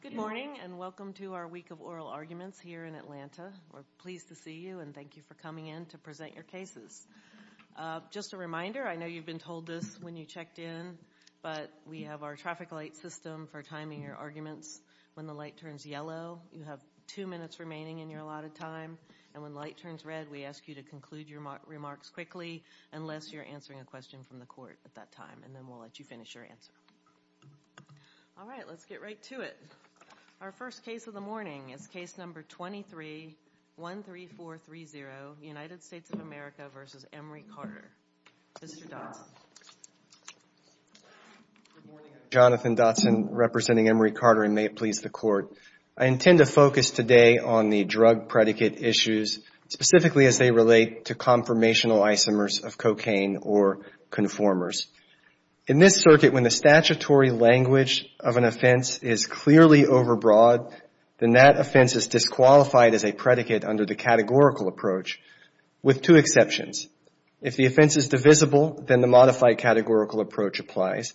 Good morning and welcome to our week of oral arguments here in Atlanta. We're pleased to see you and thank you for coming in to present your cases. Just a reminder, I know you've been told this when you checked in, but we have our traffic light system for timing your arguments. When the light turns yellow, you have two minutes remaining in your allotted time, and when the light turns red, we ask you to conclude your remarks quickly unless you're answering a question from the court at that time, and then we'll let you finish your answer. All right, let's get right to it. Our first case of the morning is case number 2313430, United States of America v. Emory Carter. Mr. Dotson. Good morning. I'm Jonathan Dotson representing Emory Carter, and may it please the court, I intend to focus today on the drug predicate issues, specifically as they relate to conformational isomers of cocaine or conformers. In this circuit, when the statutory language of an offense is clearly overbroad, then that offense is disqualified as a predicate under the categorical approach with two exceptions. If the offense is divisible, then the modified categorical approach applies,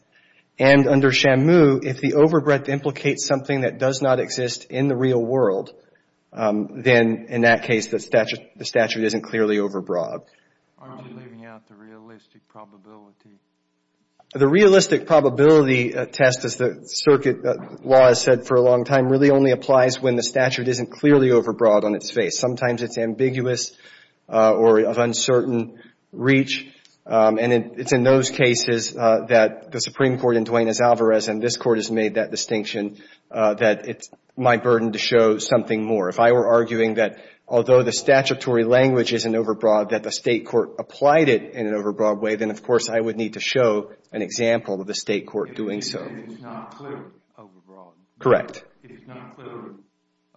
and under Shamu, if the overbreadth implicates something that does not exist in the real world, then in that case, the statute isn't clearly overbroad. Are you leaving out the realistic probability? The realistic probability test, as the circuit law has said for a long time, really only applies when the statute isn't clearly overbroad on its face. Sometimes it's ambiguous or of uncertain reach, and it's in those cases that the Supreme Court in Duenas-Alvarez, and this Court has made that distinction, that it's my burden to show something more. If I were arguing that although the statutory language isn't overbroad, that the State Court applied it in an overbroad way, then of course I would need to show an example of the State Court doing so. If it's not clearly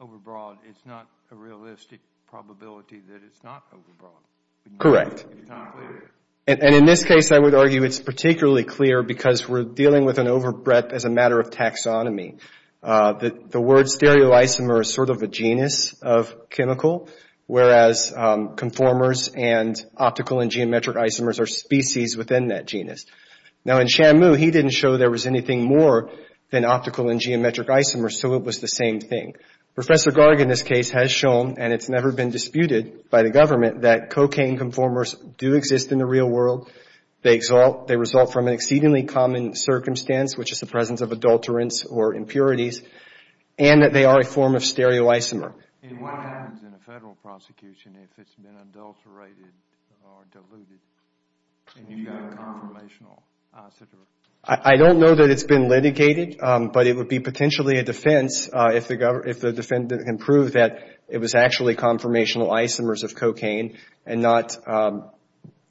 overbroad, it's not a realistic probability that it's not overbroad. Correct. If it's not clear. In this case, I would argue it's particularly clear because we're dealing with an overbreadth as a matter of taxonomy. The word stereoisomer is sort of a genus of chemical, whereas conformers and optical and geometric isomers are species within that genus. Now, in Shamu, he didn't show there was anything more than optical and geometric isomers, so it was the same thing. Professor Garg in this case has shown, and it's never been disputed by the government, that cocaine conformers do exist in the real world. They result from an exceedingly common circumstance, which is the presence of adulterants or impurities, and that they are a form of stereoisomer. And what happens in a Federal prosecution if it's been adulterated or diluted and you've got a conformational isotope? I don't know that it's been litigated, but it would be potentially a defense if the defendant can prove that it was actually conformational isomers of cocaine and not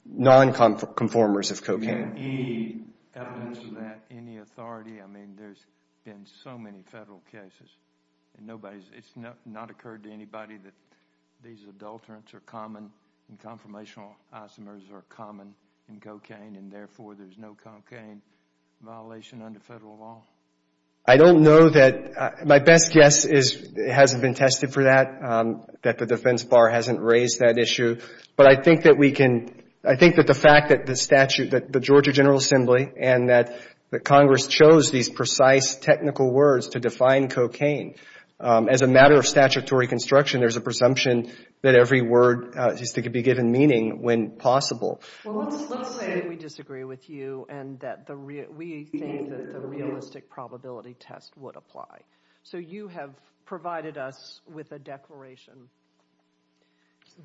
non-conformers of cocaine. And any evidence of that, any authority, I mean, there's been so many Federal cases, and nobody's, it's not occurred to anybody that these adulterants are common and conformational isomers are common in cocaine, and therefore there's no cocaine violation under Federal law? I don't know that, my best guess is it hasn't been tested for that, that the defense bar hasn't raised that issue. But I think that we can, I think that the fact that the statute, that the Georgia General Assembly and that Congress chose these precise technical words to define cocaine, as a matter of statutory construction, there's a presumption that every word is to be given meaning when possible. Well, let's say we disagree with you and that we think that the realistic probability test would apply. So you have provided us with a declaration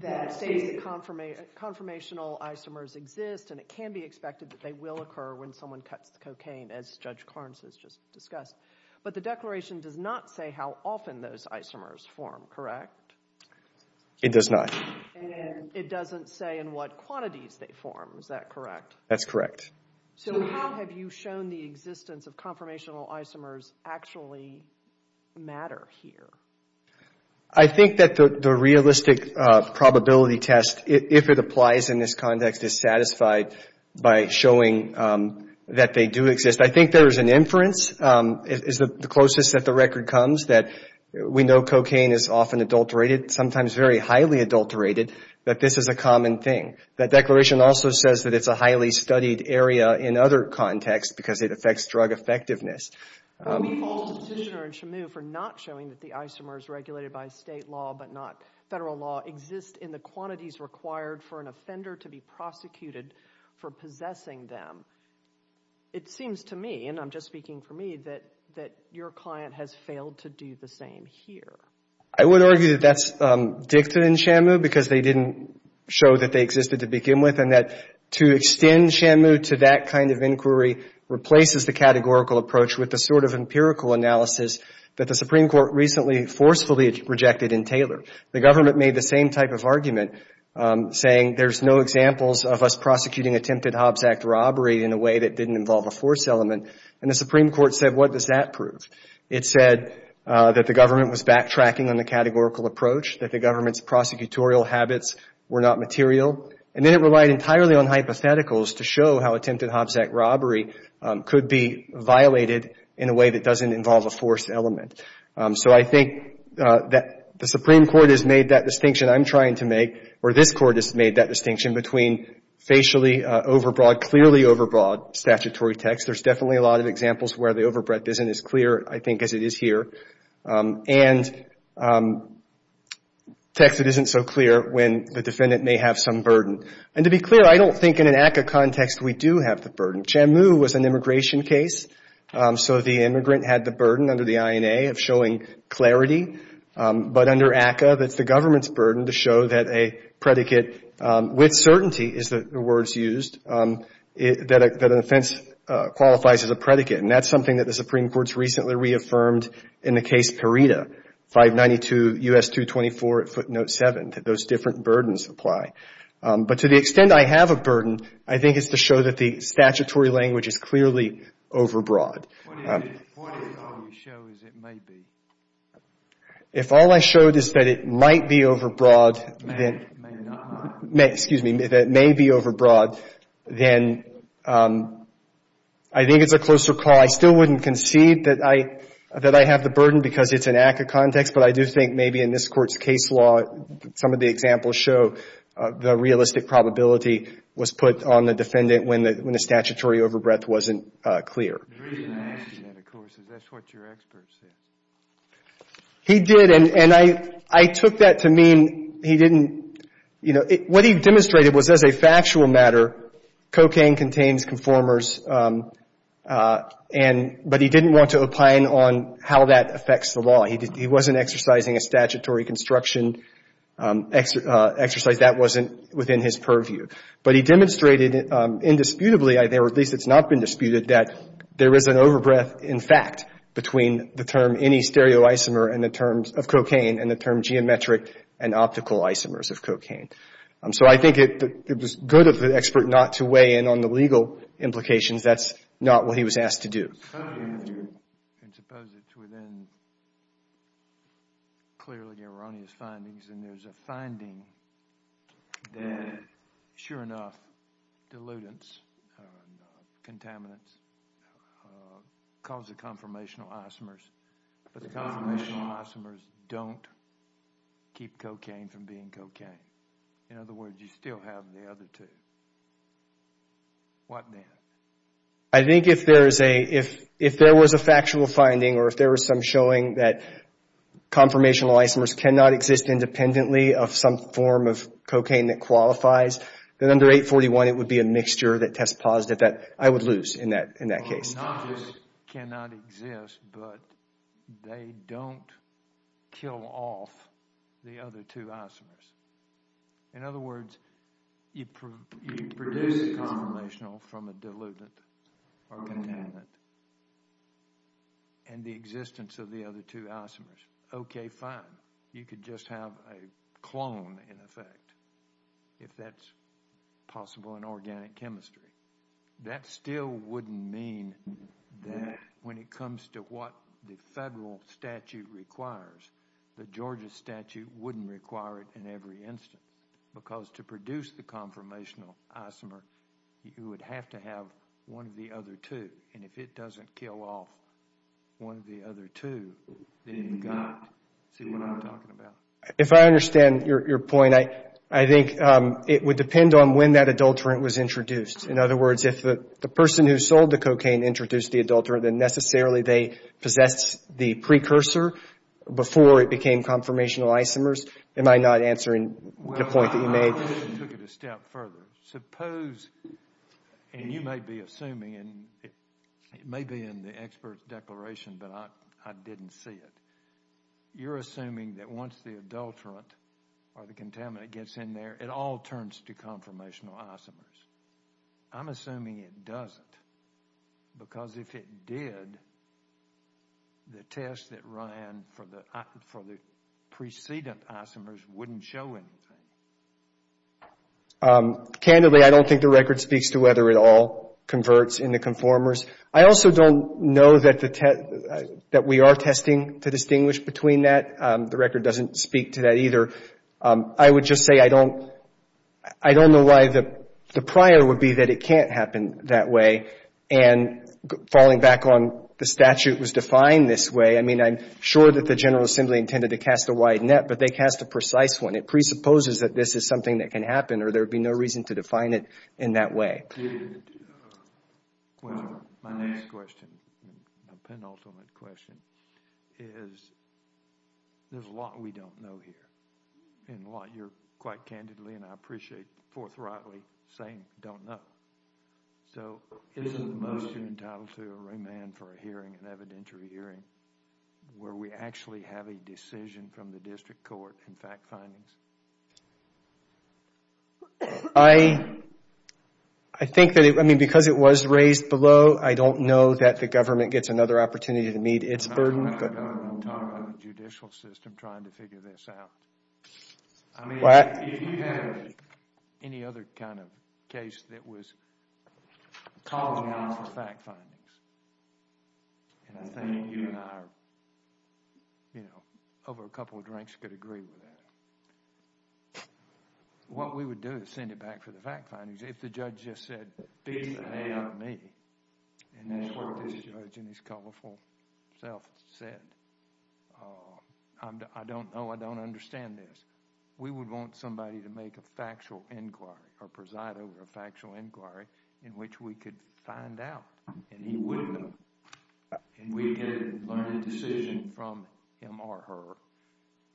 that states that conformational isomers exist and it can be expected that they will occur when someone cuts cocaine, as Judge Clarence has just discussed, but the declaration does not say how often those isomers form, correct? It does not. And it doesn't say in what quantities they form, is that correct? That's correct. So how have you shown the existence of conformational isomers actually matter here? I think that the realistic probability test, if it applies in this context, is satisfied by showing that they do exist. I think there is an inference, is the closest that the record comes, that we know cocaine is often adulterated, sometimes very highly adulterated, that this is a common thing. That declaration also says that it's a highly studied area in other contexts because it affects drug effectiveness. Well, we hold the petitioner in Shamu for not showing that the isomers regulated by state law but not federal law exist in the quantities required for an offender to be prosecuted for possessing them. It seems to me, and I'm just speaking for me, that your client has failed to do the same here. I would argue that that's dictated in Shamu because they didn't show that they existed to begin with. And that to extend Shamu to that kind of inquiry replaces the categorical approach with the sort of empirical analysis that the Supreme Court recently forcefully rejected in Taylor. The government made the same type of argument, saying there's no examples of us prosecuting attempted Hobbs Act robbery in a way that didn't involve a force element. And the Supreme Court said, what does that prove? It said that the government was backtracking on the categorical approach, that the government's prosecutorial habits were not material. And then it relied entirely on hypotheticals to show how attempted Hobbs Act robbery could be violated in a way that doesn't involve a force element. So I think that the Supreme Court has made that distinction, I'm trying to make, or this Court has made that distinction between facially overbroad, clearly overbroad statutory text. There's definitely a lot of examples where the overbroad isn't as clear, I think, as it is here. And text that isn't so clear when the defendant may have some burden. And to be clear, I don't think in an ACCA context we do have the burden. Shamu was an immigration case, so the immigrant had the burden under the INA of showing clarity. But under ACCA, that's the government's burden to show that a predicate with certainty, is the words used, that an offense qualifies as a predicate. And that's something that the Supreme Court's recently reaffirmed in the case Pereda, 592 U.S. 224 footnote 7, that those different burdens apply. But to the extent I have a burden, I think it's to show that the statutory language is clearly overbroad. If all I showed is that it might be overbroad, then, excuse me, that it may be overbroad, then I think it's a closer call. I still wouldn't concede that I have the burden because it's an ACCA context, but I do think maybe in this Court's case law, some of the examples show the realistic probability was put on the defendant when the statutory overbreadth wasn't clear. The reason I ask you that, of course, is that's what your expert said. He did, and I took that to mean he didn't, you know, what he demonstrated was as a factual matter, cocaine contains conformers, but he didn't want to opine on how that affects the law. He wasn't exercising a statutory construction exercise. That wasn't within his purview. But he demonstrated indisputably, or at least it's not been disputed, that there is an overbreadth, in fact, between the term any stereoisomer of cocaine and the term geometric and optical isomers of cocaine. So I think it was good of the expert not to weigh in on the legal implications. That's not what he was asked to do. And suppose it's within clearly erroneous findings, and there's a finding that, sure enough, dilutants, contaminants, cause the conformational isomers, but the conformational isomers don't keep cocaine from being cocaine. In other words, you still have the other two. What then? I think if there was a factual finding, or if there was some showing that conformational isomers cannot exist independently of some form of cocaine that qualifies, then under 841, it would be a mixture that test positive that I would lose in that case. Not that it cannot exist, but they don't kill off the other two isomers. In other words, you produce a conformational from a dilutant or contaminant, and the existence of the other two isomers, okay, fine. You could just have a clone, in effect, if that's possible in organic chemistry. That still wouldn't mean that when it comes to what the federal statute requires, the Because to produce the conformational isomer, you would have to have one of the other two, and if it doesn't kill off one of the other two, then you've got to see what I'm talking about. If I understand your point, I think it would depend on when that adulterant was introduced. In other words, if the person who sold the cocaine introduced the adulterant, then necessarily they possessed the precursor before it became conformational isomers. Am I not answering the point that you made? Well, I took it a step further. Suppose, and you might be assuming, and it may be in the expert's declaration, but I didn't see it. You're assuming that once the adulterant or the contaminant gets in there, it all turns to conformational isomers. I'm assuming it doesn't, because if it did, the test that ran for the precedent isomers wouldn't show anything. Candidly, I don't think the record speaks to whether it all converts into conformers. I also don't know that we are testing to distinguish between that. The record doesn't speak to that either. I would just say I don't know why the prior would be that it can't happen that way, and falling back on the statute was defined this way. I mean, I'm sure that the General Assembly intended to cast a wide net, but they cast a precise one. It presupposes that this is something that can happen, or there would be no reason to define it in that way. My next question, a penultimate question, is there's a lot we don't know here, and a lot you're quite candidly and I appreciate forthrightly saying don't know. So isn't the motion entitled to a remand for a hearing, an evidentiary hearing, where we actually have a decision from the district court and fact findings? I think that it, I mean, because it was raised below, I don't know that the government gets another opportunity to meet its burden. I'm not talking about the government, I'm talking about the judicial system trying to figure this out. I mean, if you had any other kind of case that was calling out for fact findings, and I think you and I are, you know, over a couple of drinks could agree with that, what we would do is send it back for the fact findings. If the judge just said, beat the hay out of me, and that's what this judge in his colorful self said, I don't know, I don't understand this. We would want somebody to make a factual inquiry or preside over a factual inquiry in which we could find out, and he wouldn't. And we could learn a decision from him or her,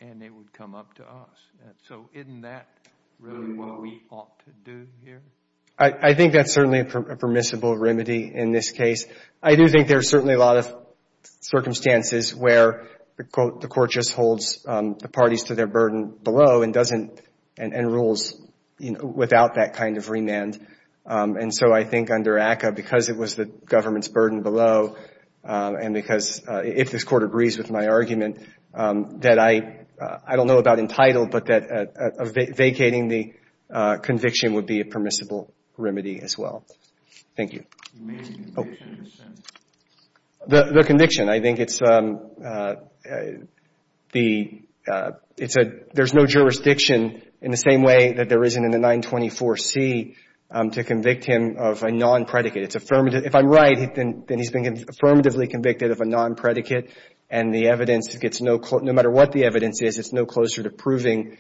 and it would come up to us. So isn't that really what we ought to do here? I think that's certainly a permissible remedy in this case. I do think there's certainly a lot of circumstances where the court just holds the parties to their burden below and doesn't, and rules, you know, without that kind of remand. And so I think under ACCA, because it was the government's burden below, and because if this court agrees with my argument, that I don't know about entitled, but that vacating the conviction would be a permissible remedy as well. Thank you. The conviction, I think it's the, it's a, there's no jurisdiction in the same way that there isn't in the 924C to convict him of a non-predicate. It's affirmative. If I'm right, then he's been affirmatively convicted of a non-predicate, and the evidence gets no, no matter what the evidence is, it's no closer to proving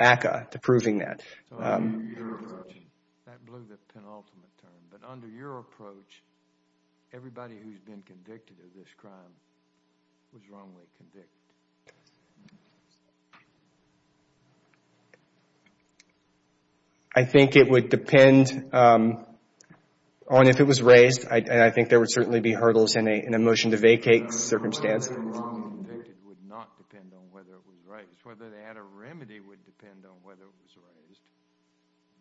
ACCA, to proving that. So under your approach, that blew the penultimate term, but under your approach, everybody who's been convicted of this crime was wrongly convicted. I think it would depend on if it was raised, and I think there would certainly be hurdles in a motion to vacate circumstance. Wrongly convicted would not depend on whether it was raised. Whether they had a remedy would depend on whether it was raised,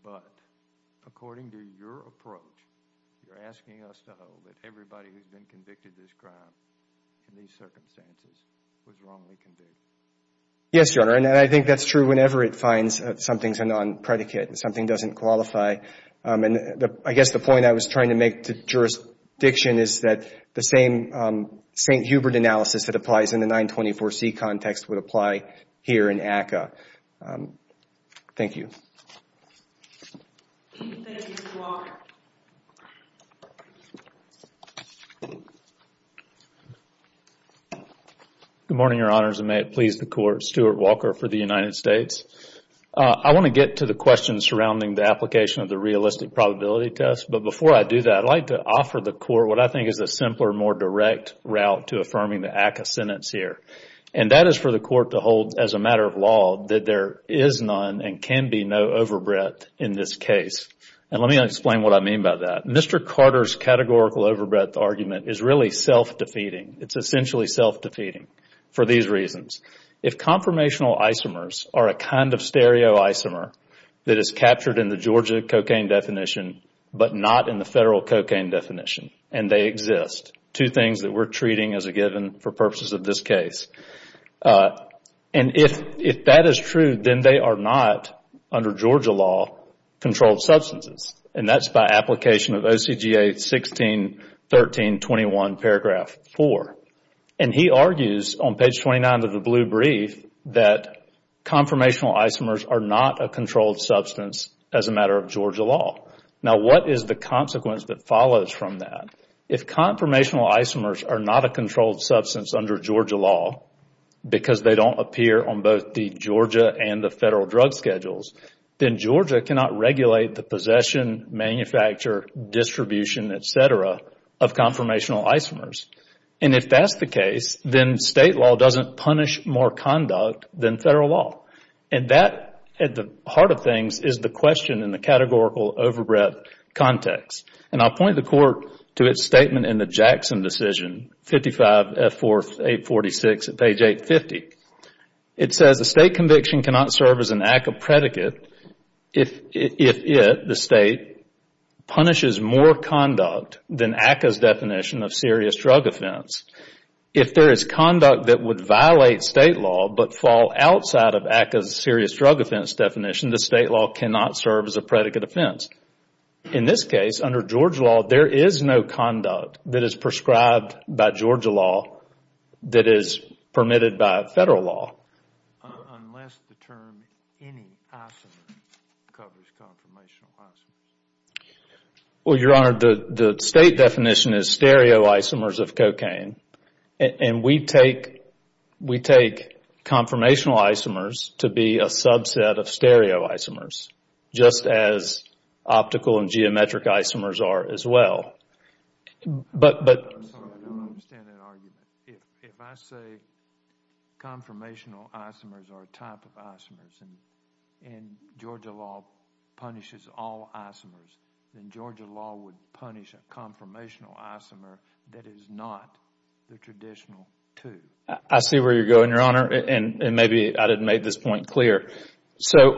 but according to your approach, you're asking us to hope that everybody who's been convicted of this crime in these circumstances was wrongly convicted. Yes, Your Honor, and I think that's true whenever it finds something's a non-predicate, something doesn't qualify. I guess the point I was trying to make to jurisdiction is that the same St. Hubert analysis that applies in the 924C context would apply here in ACCA. Thank you. Thank you, Mr. Walker. Good morning, Your Honors, and may it please the Court, Stuart Walker for the United States. I want to get to the questions surrounding the application of the realistic probability test, but before I do that, I'd like to offer the Court what I think is a simpler, more direct route to affirming the ACCA sentence here, and that is for the Court to hold as a matter of law that there is none and can be no overbreadth in this case. Let me explain what I mean by that. Mr. Carter's categorical overbreadth argument is really self-defeating. It's essentially self-defeating for these reasons. If conformational isomers are a kind of stereoisomer that is captured in the Georgia cocaine definition but not in the federal cocaine definition, and they exist, two things that we're treating as a given for purposes of this case, and if that is true, then they are not, under Georgia law, controlled substances, and that's by application of OCGA 161321 paragraph 4. He argues on page 29 of the blue brief that conformational isomers are not a controlled substance as a matter of Georgia law. Now, what is the consequence that follows from that? If conformational isomers are not a controlled substance under Georgia law because they don't appear on both the Georgia and the federal drug schedules, then Georgia cannot regulate the possession, manufacture, distribution, et cetera, of conformational isomers. And if that's the case, then state law doesn't punish more conduct than federal law. And that, at the heart of things, is the question in the categorical overbreadth context. And I'll point the Court to its statement in the Jackson decision, 55F4846 at page 850. It says the state conviction cannot serve as an ACCA predicate if it, the state, punishes more conduct than ACCA's definition of serious drug offense. If there is conduct that would violate state law but fall outside of ACCA's serious drug offense definition, the state law cannot serve as a predicate offense. In this case, under Georgia law, there is no conduct that is prescribed by Georgia law that is permitted by federal law. Unless the term any isomer covers conformational isomers. Well, Your Honor, the state definition is stereoisomers of cocaine. And we take conformational isomers to be a subset of stereoisomers, just as optical and geometric isomers are as well. I'm sorry, I don't understand that argument. If I say conformational isomers are a type of isomers and Georgia law punishes all isomers, then Georgia law would punish a conformational isomer that is not the traditional two. I see where you're going, Your Honor, and maybe I didn't make this point clear.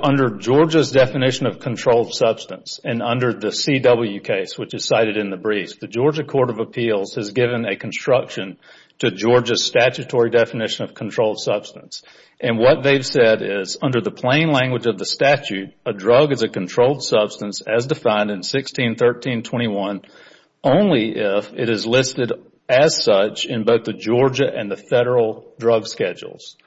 Under Georgia's definition of controlled substance and under the CW case, which is cited in the briefs, the Georgia Court of Appeals has given a construction to Georgia's statutory definition of controlled substance. And what they've said is, under the plain language of the statute, a drug is a controlled substance as defined in 161321, only if it is listed as such in both the Georgia and the federal drug schedules.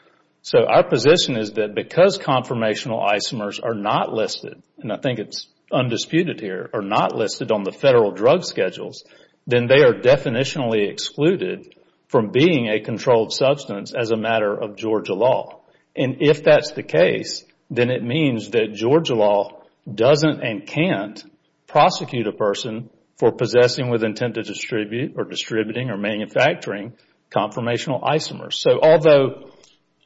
So our position is that because conformational isomers are not listed, and I think it's undisputed here, are not listed on the federal drug schedules, then they are definitionally excluded from being a controlled substance as a matter of Georgia law. And if that's the case, then it means that Georgia law doesn't and can't prosecute a person for possessing with intent to distribute or distributing or manufacturing conformational isomers. So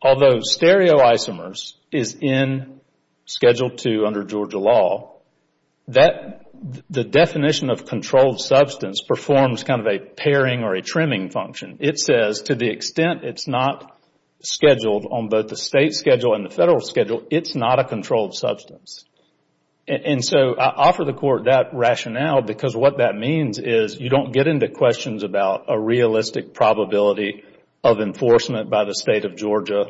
although stereo isomers is in Schedule II under Georgia law, the definition of controlled substance performs kind of a pairing or a trimming function. It says to the extent it's not scheduled on both the state schedule and the federal schedule, it's not a controlled substance. And so I offer the Court that rationale because what that means is you don't get into questions about a realistic probability of enforcement by the State of Georgia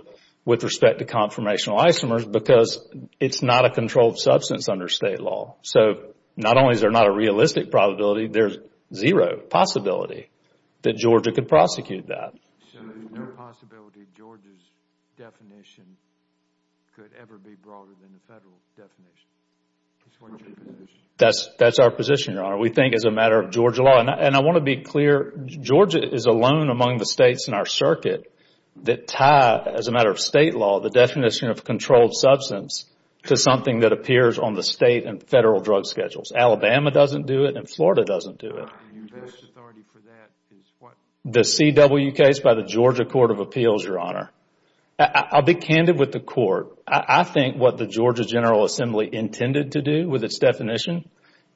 with respect to conformational isomers because it's not a controlled substance under State law. So not only is there not a realistic probability, there's zero possibility that Georgia could prosecute that. So there's no possibility Georgia's definition could ever be broader than the federal definition? That's our position, Your Honor. We think as a matter of Georgia law, and I want to be clear, Georgia is alone among the States in our circuit that tie, as a matter of State law, the definition of controlled substance to something that appears on the State and federal drug schedules. Alabama doesn't do it and Florida doesn't do it. The CW case by the Georgia Court of Appeals, Your Honor, I'll be candid with the Court. I think what the Georgia General Assembly intended to do with its definition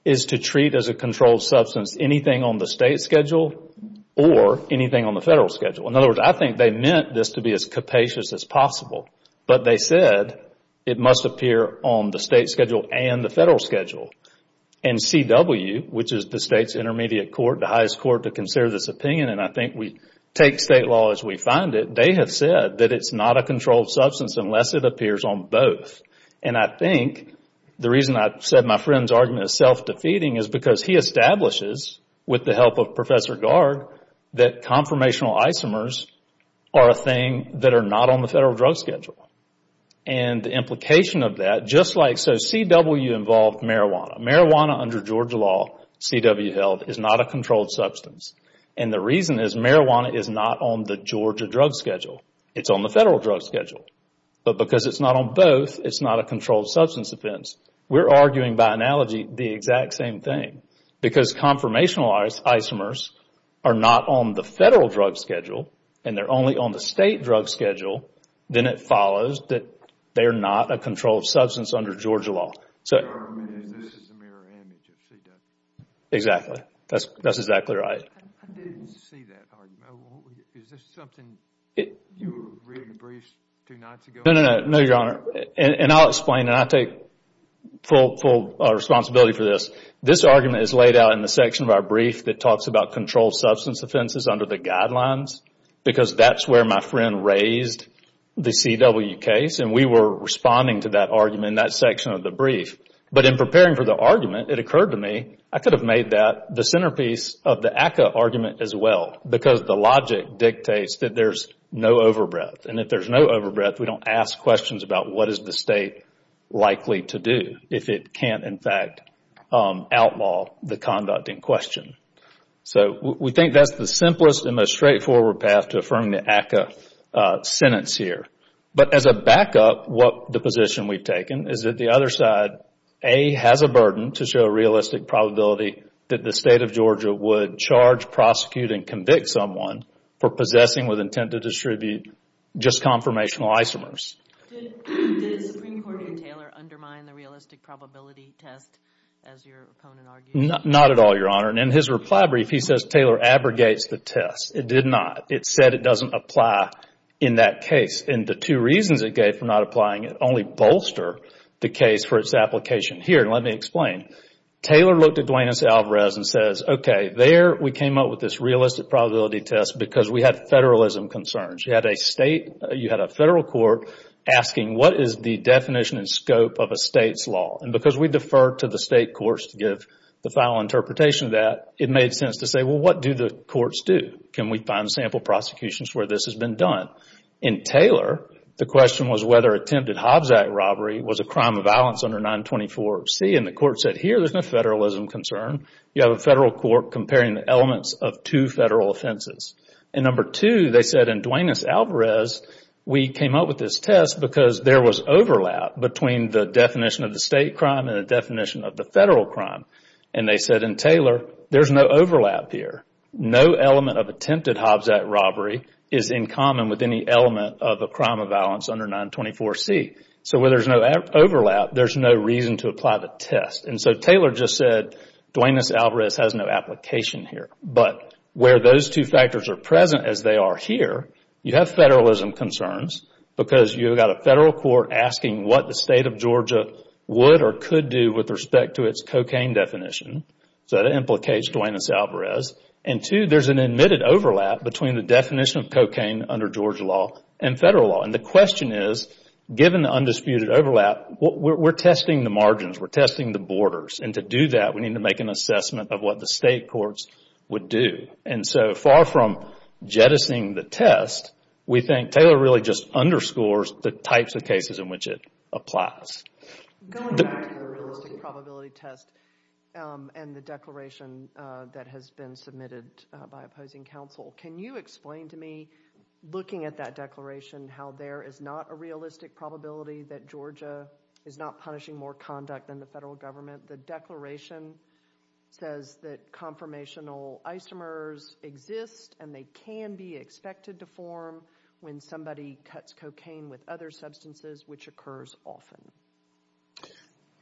is to treat as a controlled substance anything on the State schedule or anything on the federal schedule. In other words, I think they meant this to be as capacious as possible, but they said it must appear on the State schedule and the federal schedule. And CW, which is the State's intermediate court, the highest court to consider this opinion, and I think we take State law as we find it, they have said that it's not a controlled substance unless it appears on both. And I think the reason I said my friend's argument is self-defeating is because he establishes, with the help of Professor Garg, that conformational isomers are a thing that are not on the federal drug schedule. And the implication of that, just like so, CW involved marijuana. Marijuana under Georgia law, CW held, is not a controlled substance. And the reason is marijuana is not on the Georgia drug schedule. It's on the federal drug schedule. But because it's not on both, it's not a controlled substance offense. We're arguing by analogy the exact same thing. Because conformational isomers are not on the federal drug schedule, and they're only on the State drug schedule, then it follows that they're not a controlled substance under Georgia law. Your argument is this is a mirror image of CW. Exactly. That's exactly right. I didn't see that argument. Is this something you were reading the briefs two nights ago? No, no, no, your Honor. And I'll explain, and I take full responsibility for this. This argument is laid out in the section of our brief that talks about controlled substance offenses under the guidelines because that's where my friend raised the CW case, and we were responding to that argument in that section of the brief. But in preparing for the argument, it occurred to me I could have made that the centerpiece of the ACCA argument as well because the logic dictates that there's no overbreath. And if there's no overbreath, we don't ask questions about what is the State likely to do if it can't, in fact, outlaw the conduct in question. So we think that's the simplest and most straightforward path to affirming the ACCA sentence here. But as a backup, the position we've taken is that the other side, A, has a burden to show a realistic probability that the State of Georgia would charge, prosecute, and convict someone for possessing with intent to distribute just conformational isomers. Did the Supreme Court in Taylor undermine the realistic probability test, as your opponent argued? Not at all, your Honor. And in his reply brief, he says Taylor abrogates the test. It did not. It said it doesn't apply in that case. And the two reasons it gave for not applying it only bolster the case for its application. Here, let me explain. Taylor looked at Duane S. Alvarez and says, okay, there we came up with this realistic probability test because we had federalism concerns. You had a State, you had a federal court asking what is the definition and scope of a State's law. And because we defer to the State courts to give the final interpretation of that, it made sense to say, well, what do the courts do? Can we find sample prosecutions where this has been done? In Taylor, the question was whether attempted Hobbs Act robbery was a crime of violence under 924C. And the court said, here, there's no federalism concern. You have a federal court comparing the elements of two federal offenses. And number two, they said in Duane S. Alvarez, we came up with this test because there was overlap between the definition of the State crime and the definition of the federal crime. And they said in Taylor, there's no overlap here. No element of attempted Hobbs Act robbery is in common with any element of a crime of violence under 924C. So where there's no overlap, there's no reason to apply the test. And so Taylor just said Duane S. Alvarez has no application here. But where those two factors are present as they are here, you have federalism concerns because you've got a federal court asking what the State of Georgia would or could do with respect to its cocaine definition. So that implicates Duane S. Alvarez. And two, there's an admitted overlap between the definition of cocaine under Georgia law and federal law. And the question is, given the undisputed overlap, we're testing the margins. We're testing the borders. And to do that, we need to make an assessment of what the State courts would do. And so far from jettisoning the test, we think Taylor really just underscores the types of cases in which it applies. Going back to the realistic probability test and the declaration that has been submitted by opposing counsel, can you explain to me, looking at that declaration, how there is not a realistic probability that Georgia is not punishing more conduct than the federal government? The declaration says that conformational isomers exist and they can be expected to form when somebody cuts cocaine with other substances, which occurs often.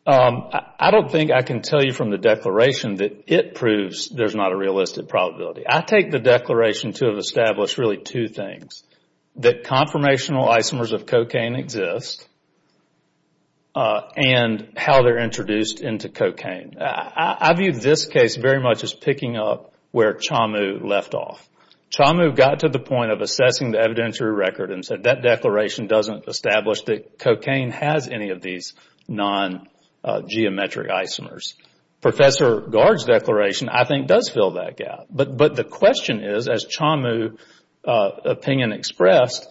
I don't think I can tell you from the declaration that it proves there's not a realistic probability. I take the declaration to have established really two things, that conformational isomers of cocaine exist and how they're introduced into cocaine. I view this case very much as picking up where Chamu left off. Chamu got to the point of assessing the evidentiary record and said that declaration doesn't establish that cocaine has any of these non-geometric isomers. Professor Gard's declaration, I think, does fill that gap. But the question is, as Chamu's opinion expressed,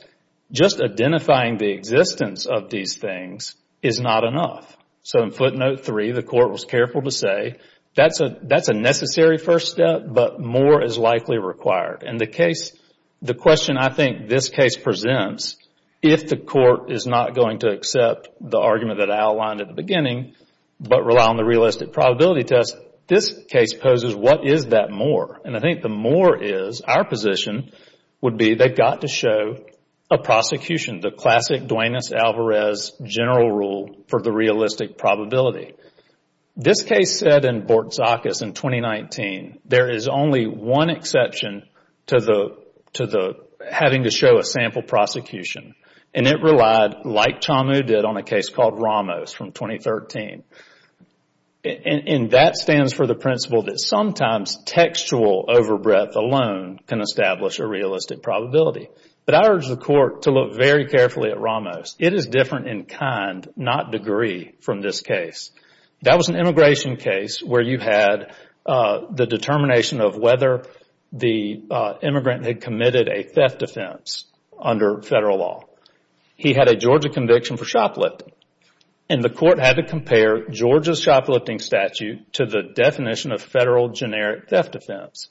just identifying the existence of these things is not enough. In footnote three, the court was careful to say, that's a necessary first step, but more is likely required. The question I think this case presents, if the court is not going to accept the argument that I outlined at the beginning but rely on the realistic probability test, this case poses, what is that more? I think the more is, our position would be they've got to show a prosecution, the classic Duane S. Alvarez general rule for the realistic probability. This case said in Bortzakis in 2019, there is only one exception to having to show a sample prosecution. And it relied, like Chamu did on a case called Ramos from 2013. And that stands for the principle that sometimes textual overbreadth alone can establish a realistic probability. But I urge the court to look very carefully at Ramos. It is different in kind, not degree, from this case. That was an immigration case where you had the determination of whether the immigrant had committed a theft offense under federal law. He had a Georgia conviction for shoplifting. And the court had to compare Georgia's shoplifting statute to the definition of federal generic theft offense.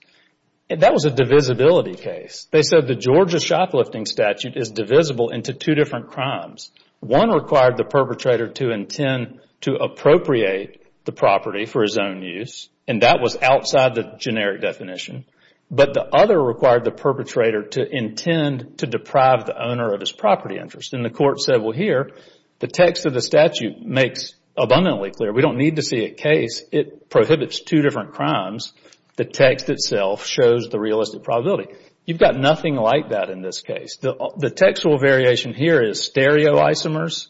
And that was a divisibility case. They said the Georgia shoplifting statute is divisible into two different crimes. One required the perpetrator to intend to appropriate the property for his own use. And that was outside the generic definition. But the other required the perpetrator to intend to deprive the owner of his property interest. And the court said, well, here, the text of the statute makes abundantly clear. We don't need to see a case. It prohibits two different crimes. The text itself shows the realistic probability. You've got nothing like that in this case. The textual variation here is stereoisomers,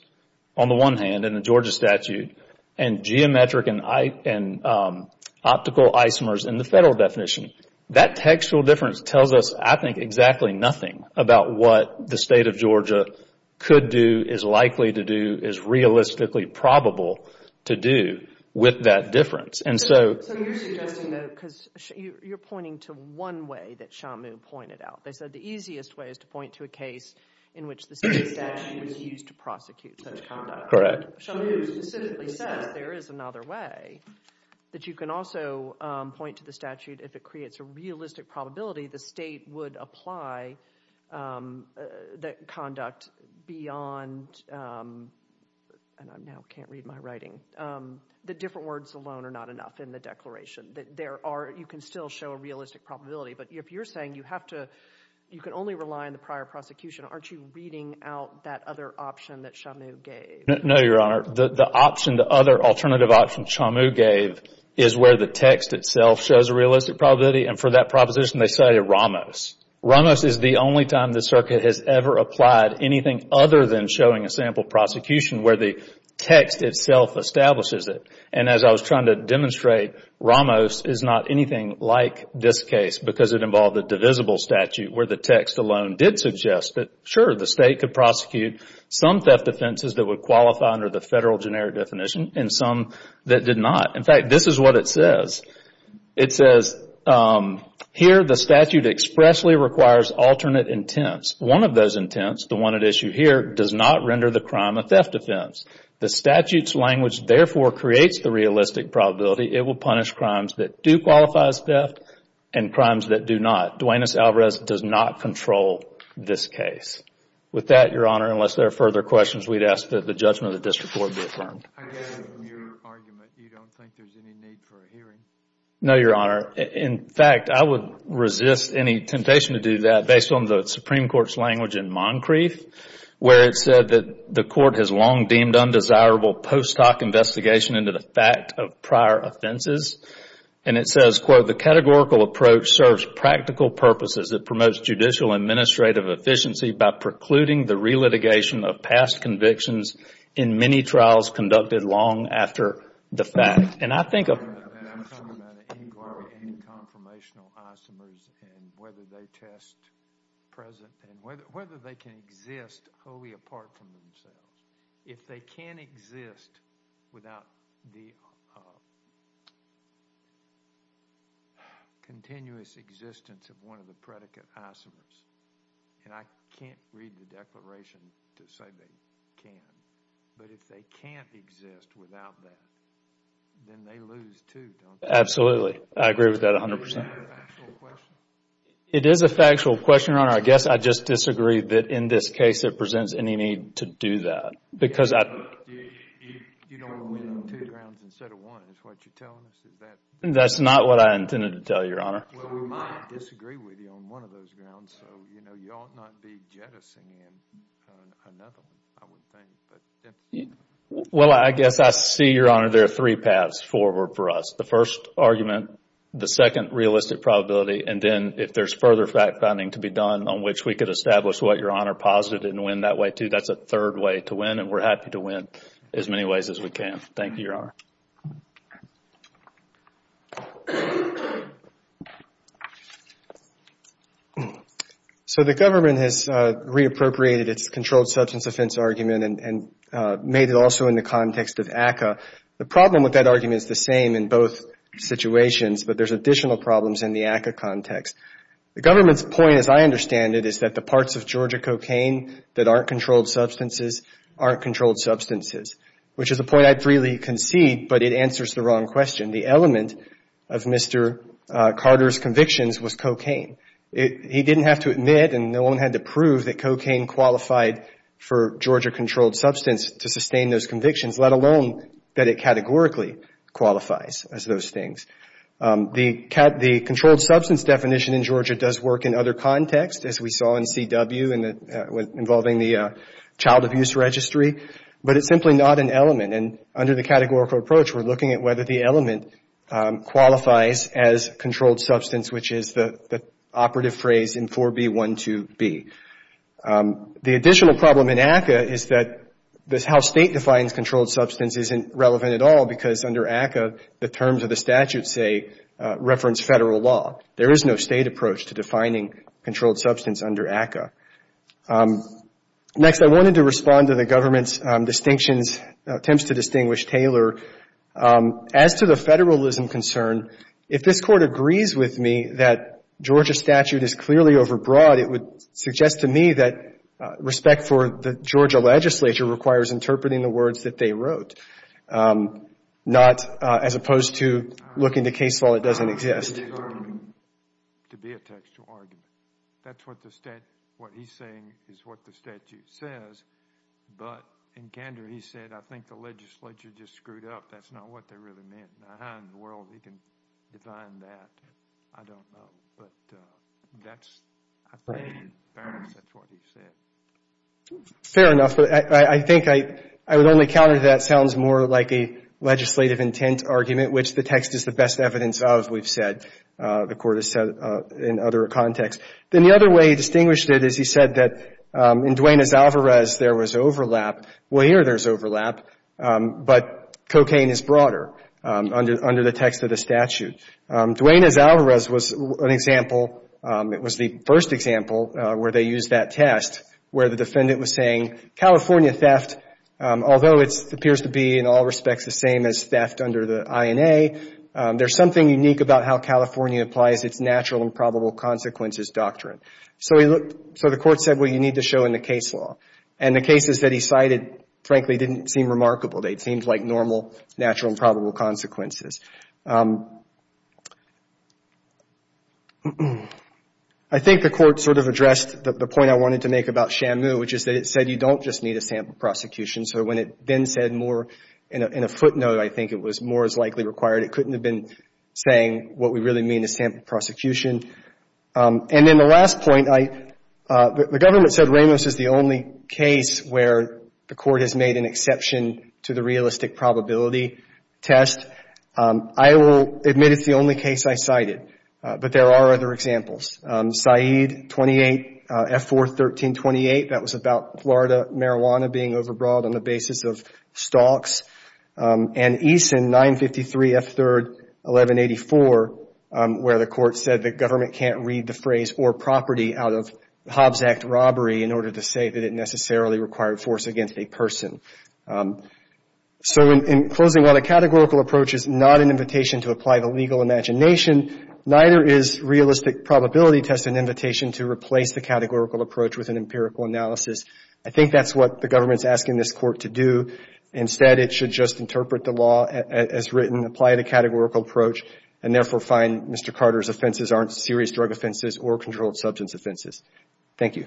on the one hand, in the Georgia statute, and geometric and optical isomers in the federal definition. That textual difference tells us, I think, exactly nothing about what the state of Georgia could do, is likely to do, is realistically probable to do with that difference. So you're suggesting, though, because you're pointing to one way that Shamu pointed out. They said the easiest way is to point to a case in which the state statute was used to prosecute such conduct. Correct. Shamu specifically says there is another way that you can also point to the statute. If it creates a realistic probability, the state would apply that conduct beyond—and I now can't read my writing— the different words alone are not enough in the declaration. There are—you can still show a realistic probability. But if you're saying you have to—you can only rely on the prior prosecution, aren't you reading out that other option that Shamu gave? No, Your Honor. The option, the other alternative option Shamu gave is where the text itself shows a realistic probability. And for that proposition, they say Ramos. Ramos is the only time the circuit has ever applied anything other than showing a sample prosecution where the text itself establishes it. And as I was trying to demonstrate, Ramos is not anything like this case because it involved a divisible statute where the text alone did suggest that, sure, the state could prosecute some theft offenses that would qualify under the federal generic definition and some that did not. In fact, this is what it says. It says, here the statute expressly requires alternate intents. One of those intents, the one at issue here, does not render the crime a theft offense. The statute's language, therefore, creates the realistic probability. It will punish crimes that do qualify as theft and crimes that do not. Duane S. Alvarez does not control this case. With that, Your Honor, unless there are further questions, we'd ask that the judgment of the district court be affirmed. I get it in your argument. You don't think there's any need for a hearing? No, Your Honor. In fact, I would resist any temptation to do that based on the Supreme Court's language in Moncrief where it said that the court has long deemed undesirable post hoc investigation into the fact of prior offenses. And it says, quote, the categorical approach serves practical purposes. It promotes judicial administrative efficiency by precluding the relitigation of past convictions in many trials conducted long after the fact. I'm talking about an inquiry into conformational isomers and whether they test present and whether they can exist wholly apart from themselves. If they can exist without the continuous existence of one of the predicate isomers, and I can't read the declaration to say they can, but if they can't exist without that, then they lose too, don't they? Absolutely. I agree with that 100%. Is that a factual question? It is a factual question, Your Honor. I guess I just disagree that in this case it presents any need to do that. You don't win two grounds instead of one. Is that what you're telling us? That's not what I intended to tell you, Your Honor. Well, we might disagree with you on one of those grounds, so you ought not be jettisoning in on another one, I would think. Well, I guess I see, Your Honor, there are three paths forward for us. The first argument, the second realistic probability, and then if there's further fact-finding to be done on which we could establish what Your Honor posited and win that way too, that's a third way to win, and we're happy to win as many ways as we can. Thank you, Your Honor. So the government has reappropriated its controlled substance offense argument and made it also in the context of ACCA. The problem with that argument is the same in both situations, but there's additional problems in the ACCA context. The government's point, as I understand it, is that the parts of Georgia cocaine that aren't controlled substances aren't controlled substances, which is a point I'd freely concede, but it answers the wrong question. The element of Mr. Carter's convictions was cocaine. He didn't have to admit and no one had to prove that cocaine qualified for Georgia controlled substance to sustain those convictions, let alone that it categorically qualifies as those things. The controlled substance definition in Georgia does work in other contexts, as we saw in CW involving the child abuse registry, but it's simply not an element, and under the categorical approach, we're looking at whether the element qualifies as controlled substance, which is the operative phrase in 4B12B. The additional problem in ACCA is that how State defines controlled substance isn't relevant at all because under ACCA, the terms of the statute say reference federal law. There is no State approach to defining controlled substance under ACCA. Next, I wanted to respond to the government's distinctions, attempts to distinguish Taylor. As to the federalism concern, if this Court agrees with me that Georgia statute is clearly overbroad, it would suggest to me that respect for the Georgia legislature requires interpreting the words that they wrote, not as opposed to looking to case law that doesn't exist. To be a textual argument. That's what he's saying is what the statute says, but in candor, he said, I think the legislature just screwed up. That's not what they really meant. Now, how in the world he can define that, I don't know, but that's, I think, apparently that's what he said. Fair enough, but I think I would only counter that sounds more like a legislative intent argument, which the text is the best evidence of, we've said. The Court has said in other contexts. Then the other way he distinguished it is he said that in Duenas-Alvarez, there was overlap. Well, here there's overlap, but cocaine is broader under the text of the statute. Duenas-Alvarez was an example, it was the first example where they used that test where the defendant was saying California theft, although it appears to be in all of the INA, there's something unique about how California applies its natural and probable consequences doctrine. So the Court said, well, you need to show in the case law. And the cases that he cited, frankly, didn't seem remarkable. They seemed like normal, natural and probable consequences. I think the Court sort of addressed the point I wanted to make about Shamu, which is that it said you don't just need a sample prosecution. So when it then said more in a footnote, I think it was more is likely required. It couldn't have been saying what we really mean is sample prosecution. And then the last point, the Government said Ramos is the only case where the Court has made an exception to the realistic probability test. I will admit it's the only case I cited, but there are other examples. Saeed, 28, F4-13-28, that was about Florida marijuana being overbought on the basis of stalks. And Eason, 953 F3-1184, where the Court said the Government can't read the phrase or property out of Hobbs Act robbery in order to say that it necessarily required force against a person. So in closing, while the categorical approach is not an invitation to apply the legal imagination, neither is realistic probability test an invitation to replace the categorical approach with an empirical analysis. I think that's what the Government is asking this Court to do. Instead, it should just interpret the law as written, apply the categorical approach, and therefore find Mr. Carter's offenses aren't serious drug offenses or controlled substance offenses. Thank you. Thank you.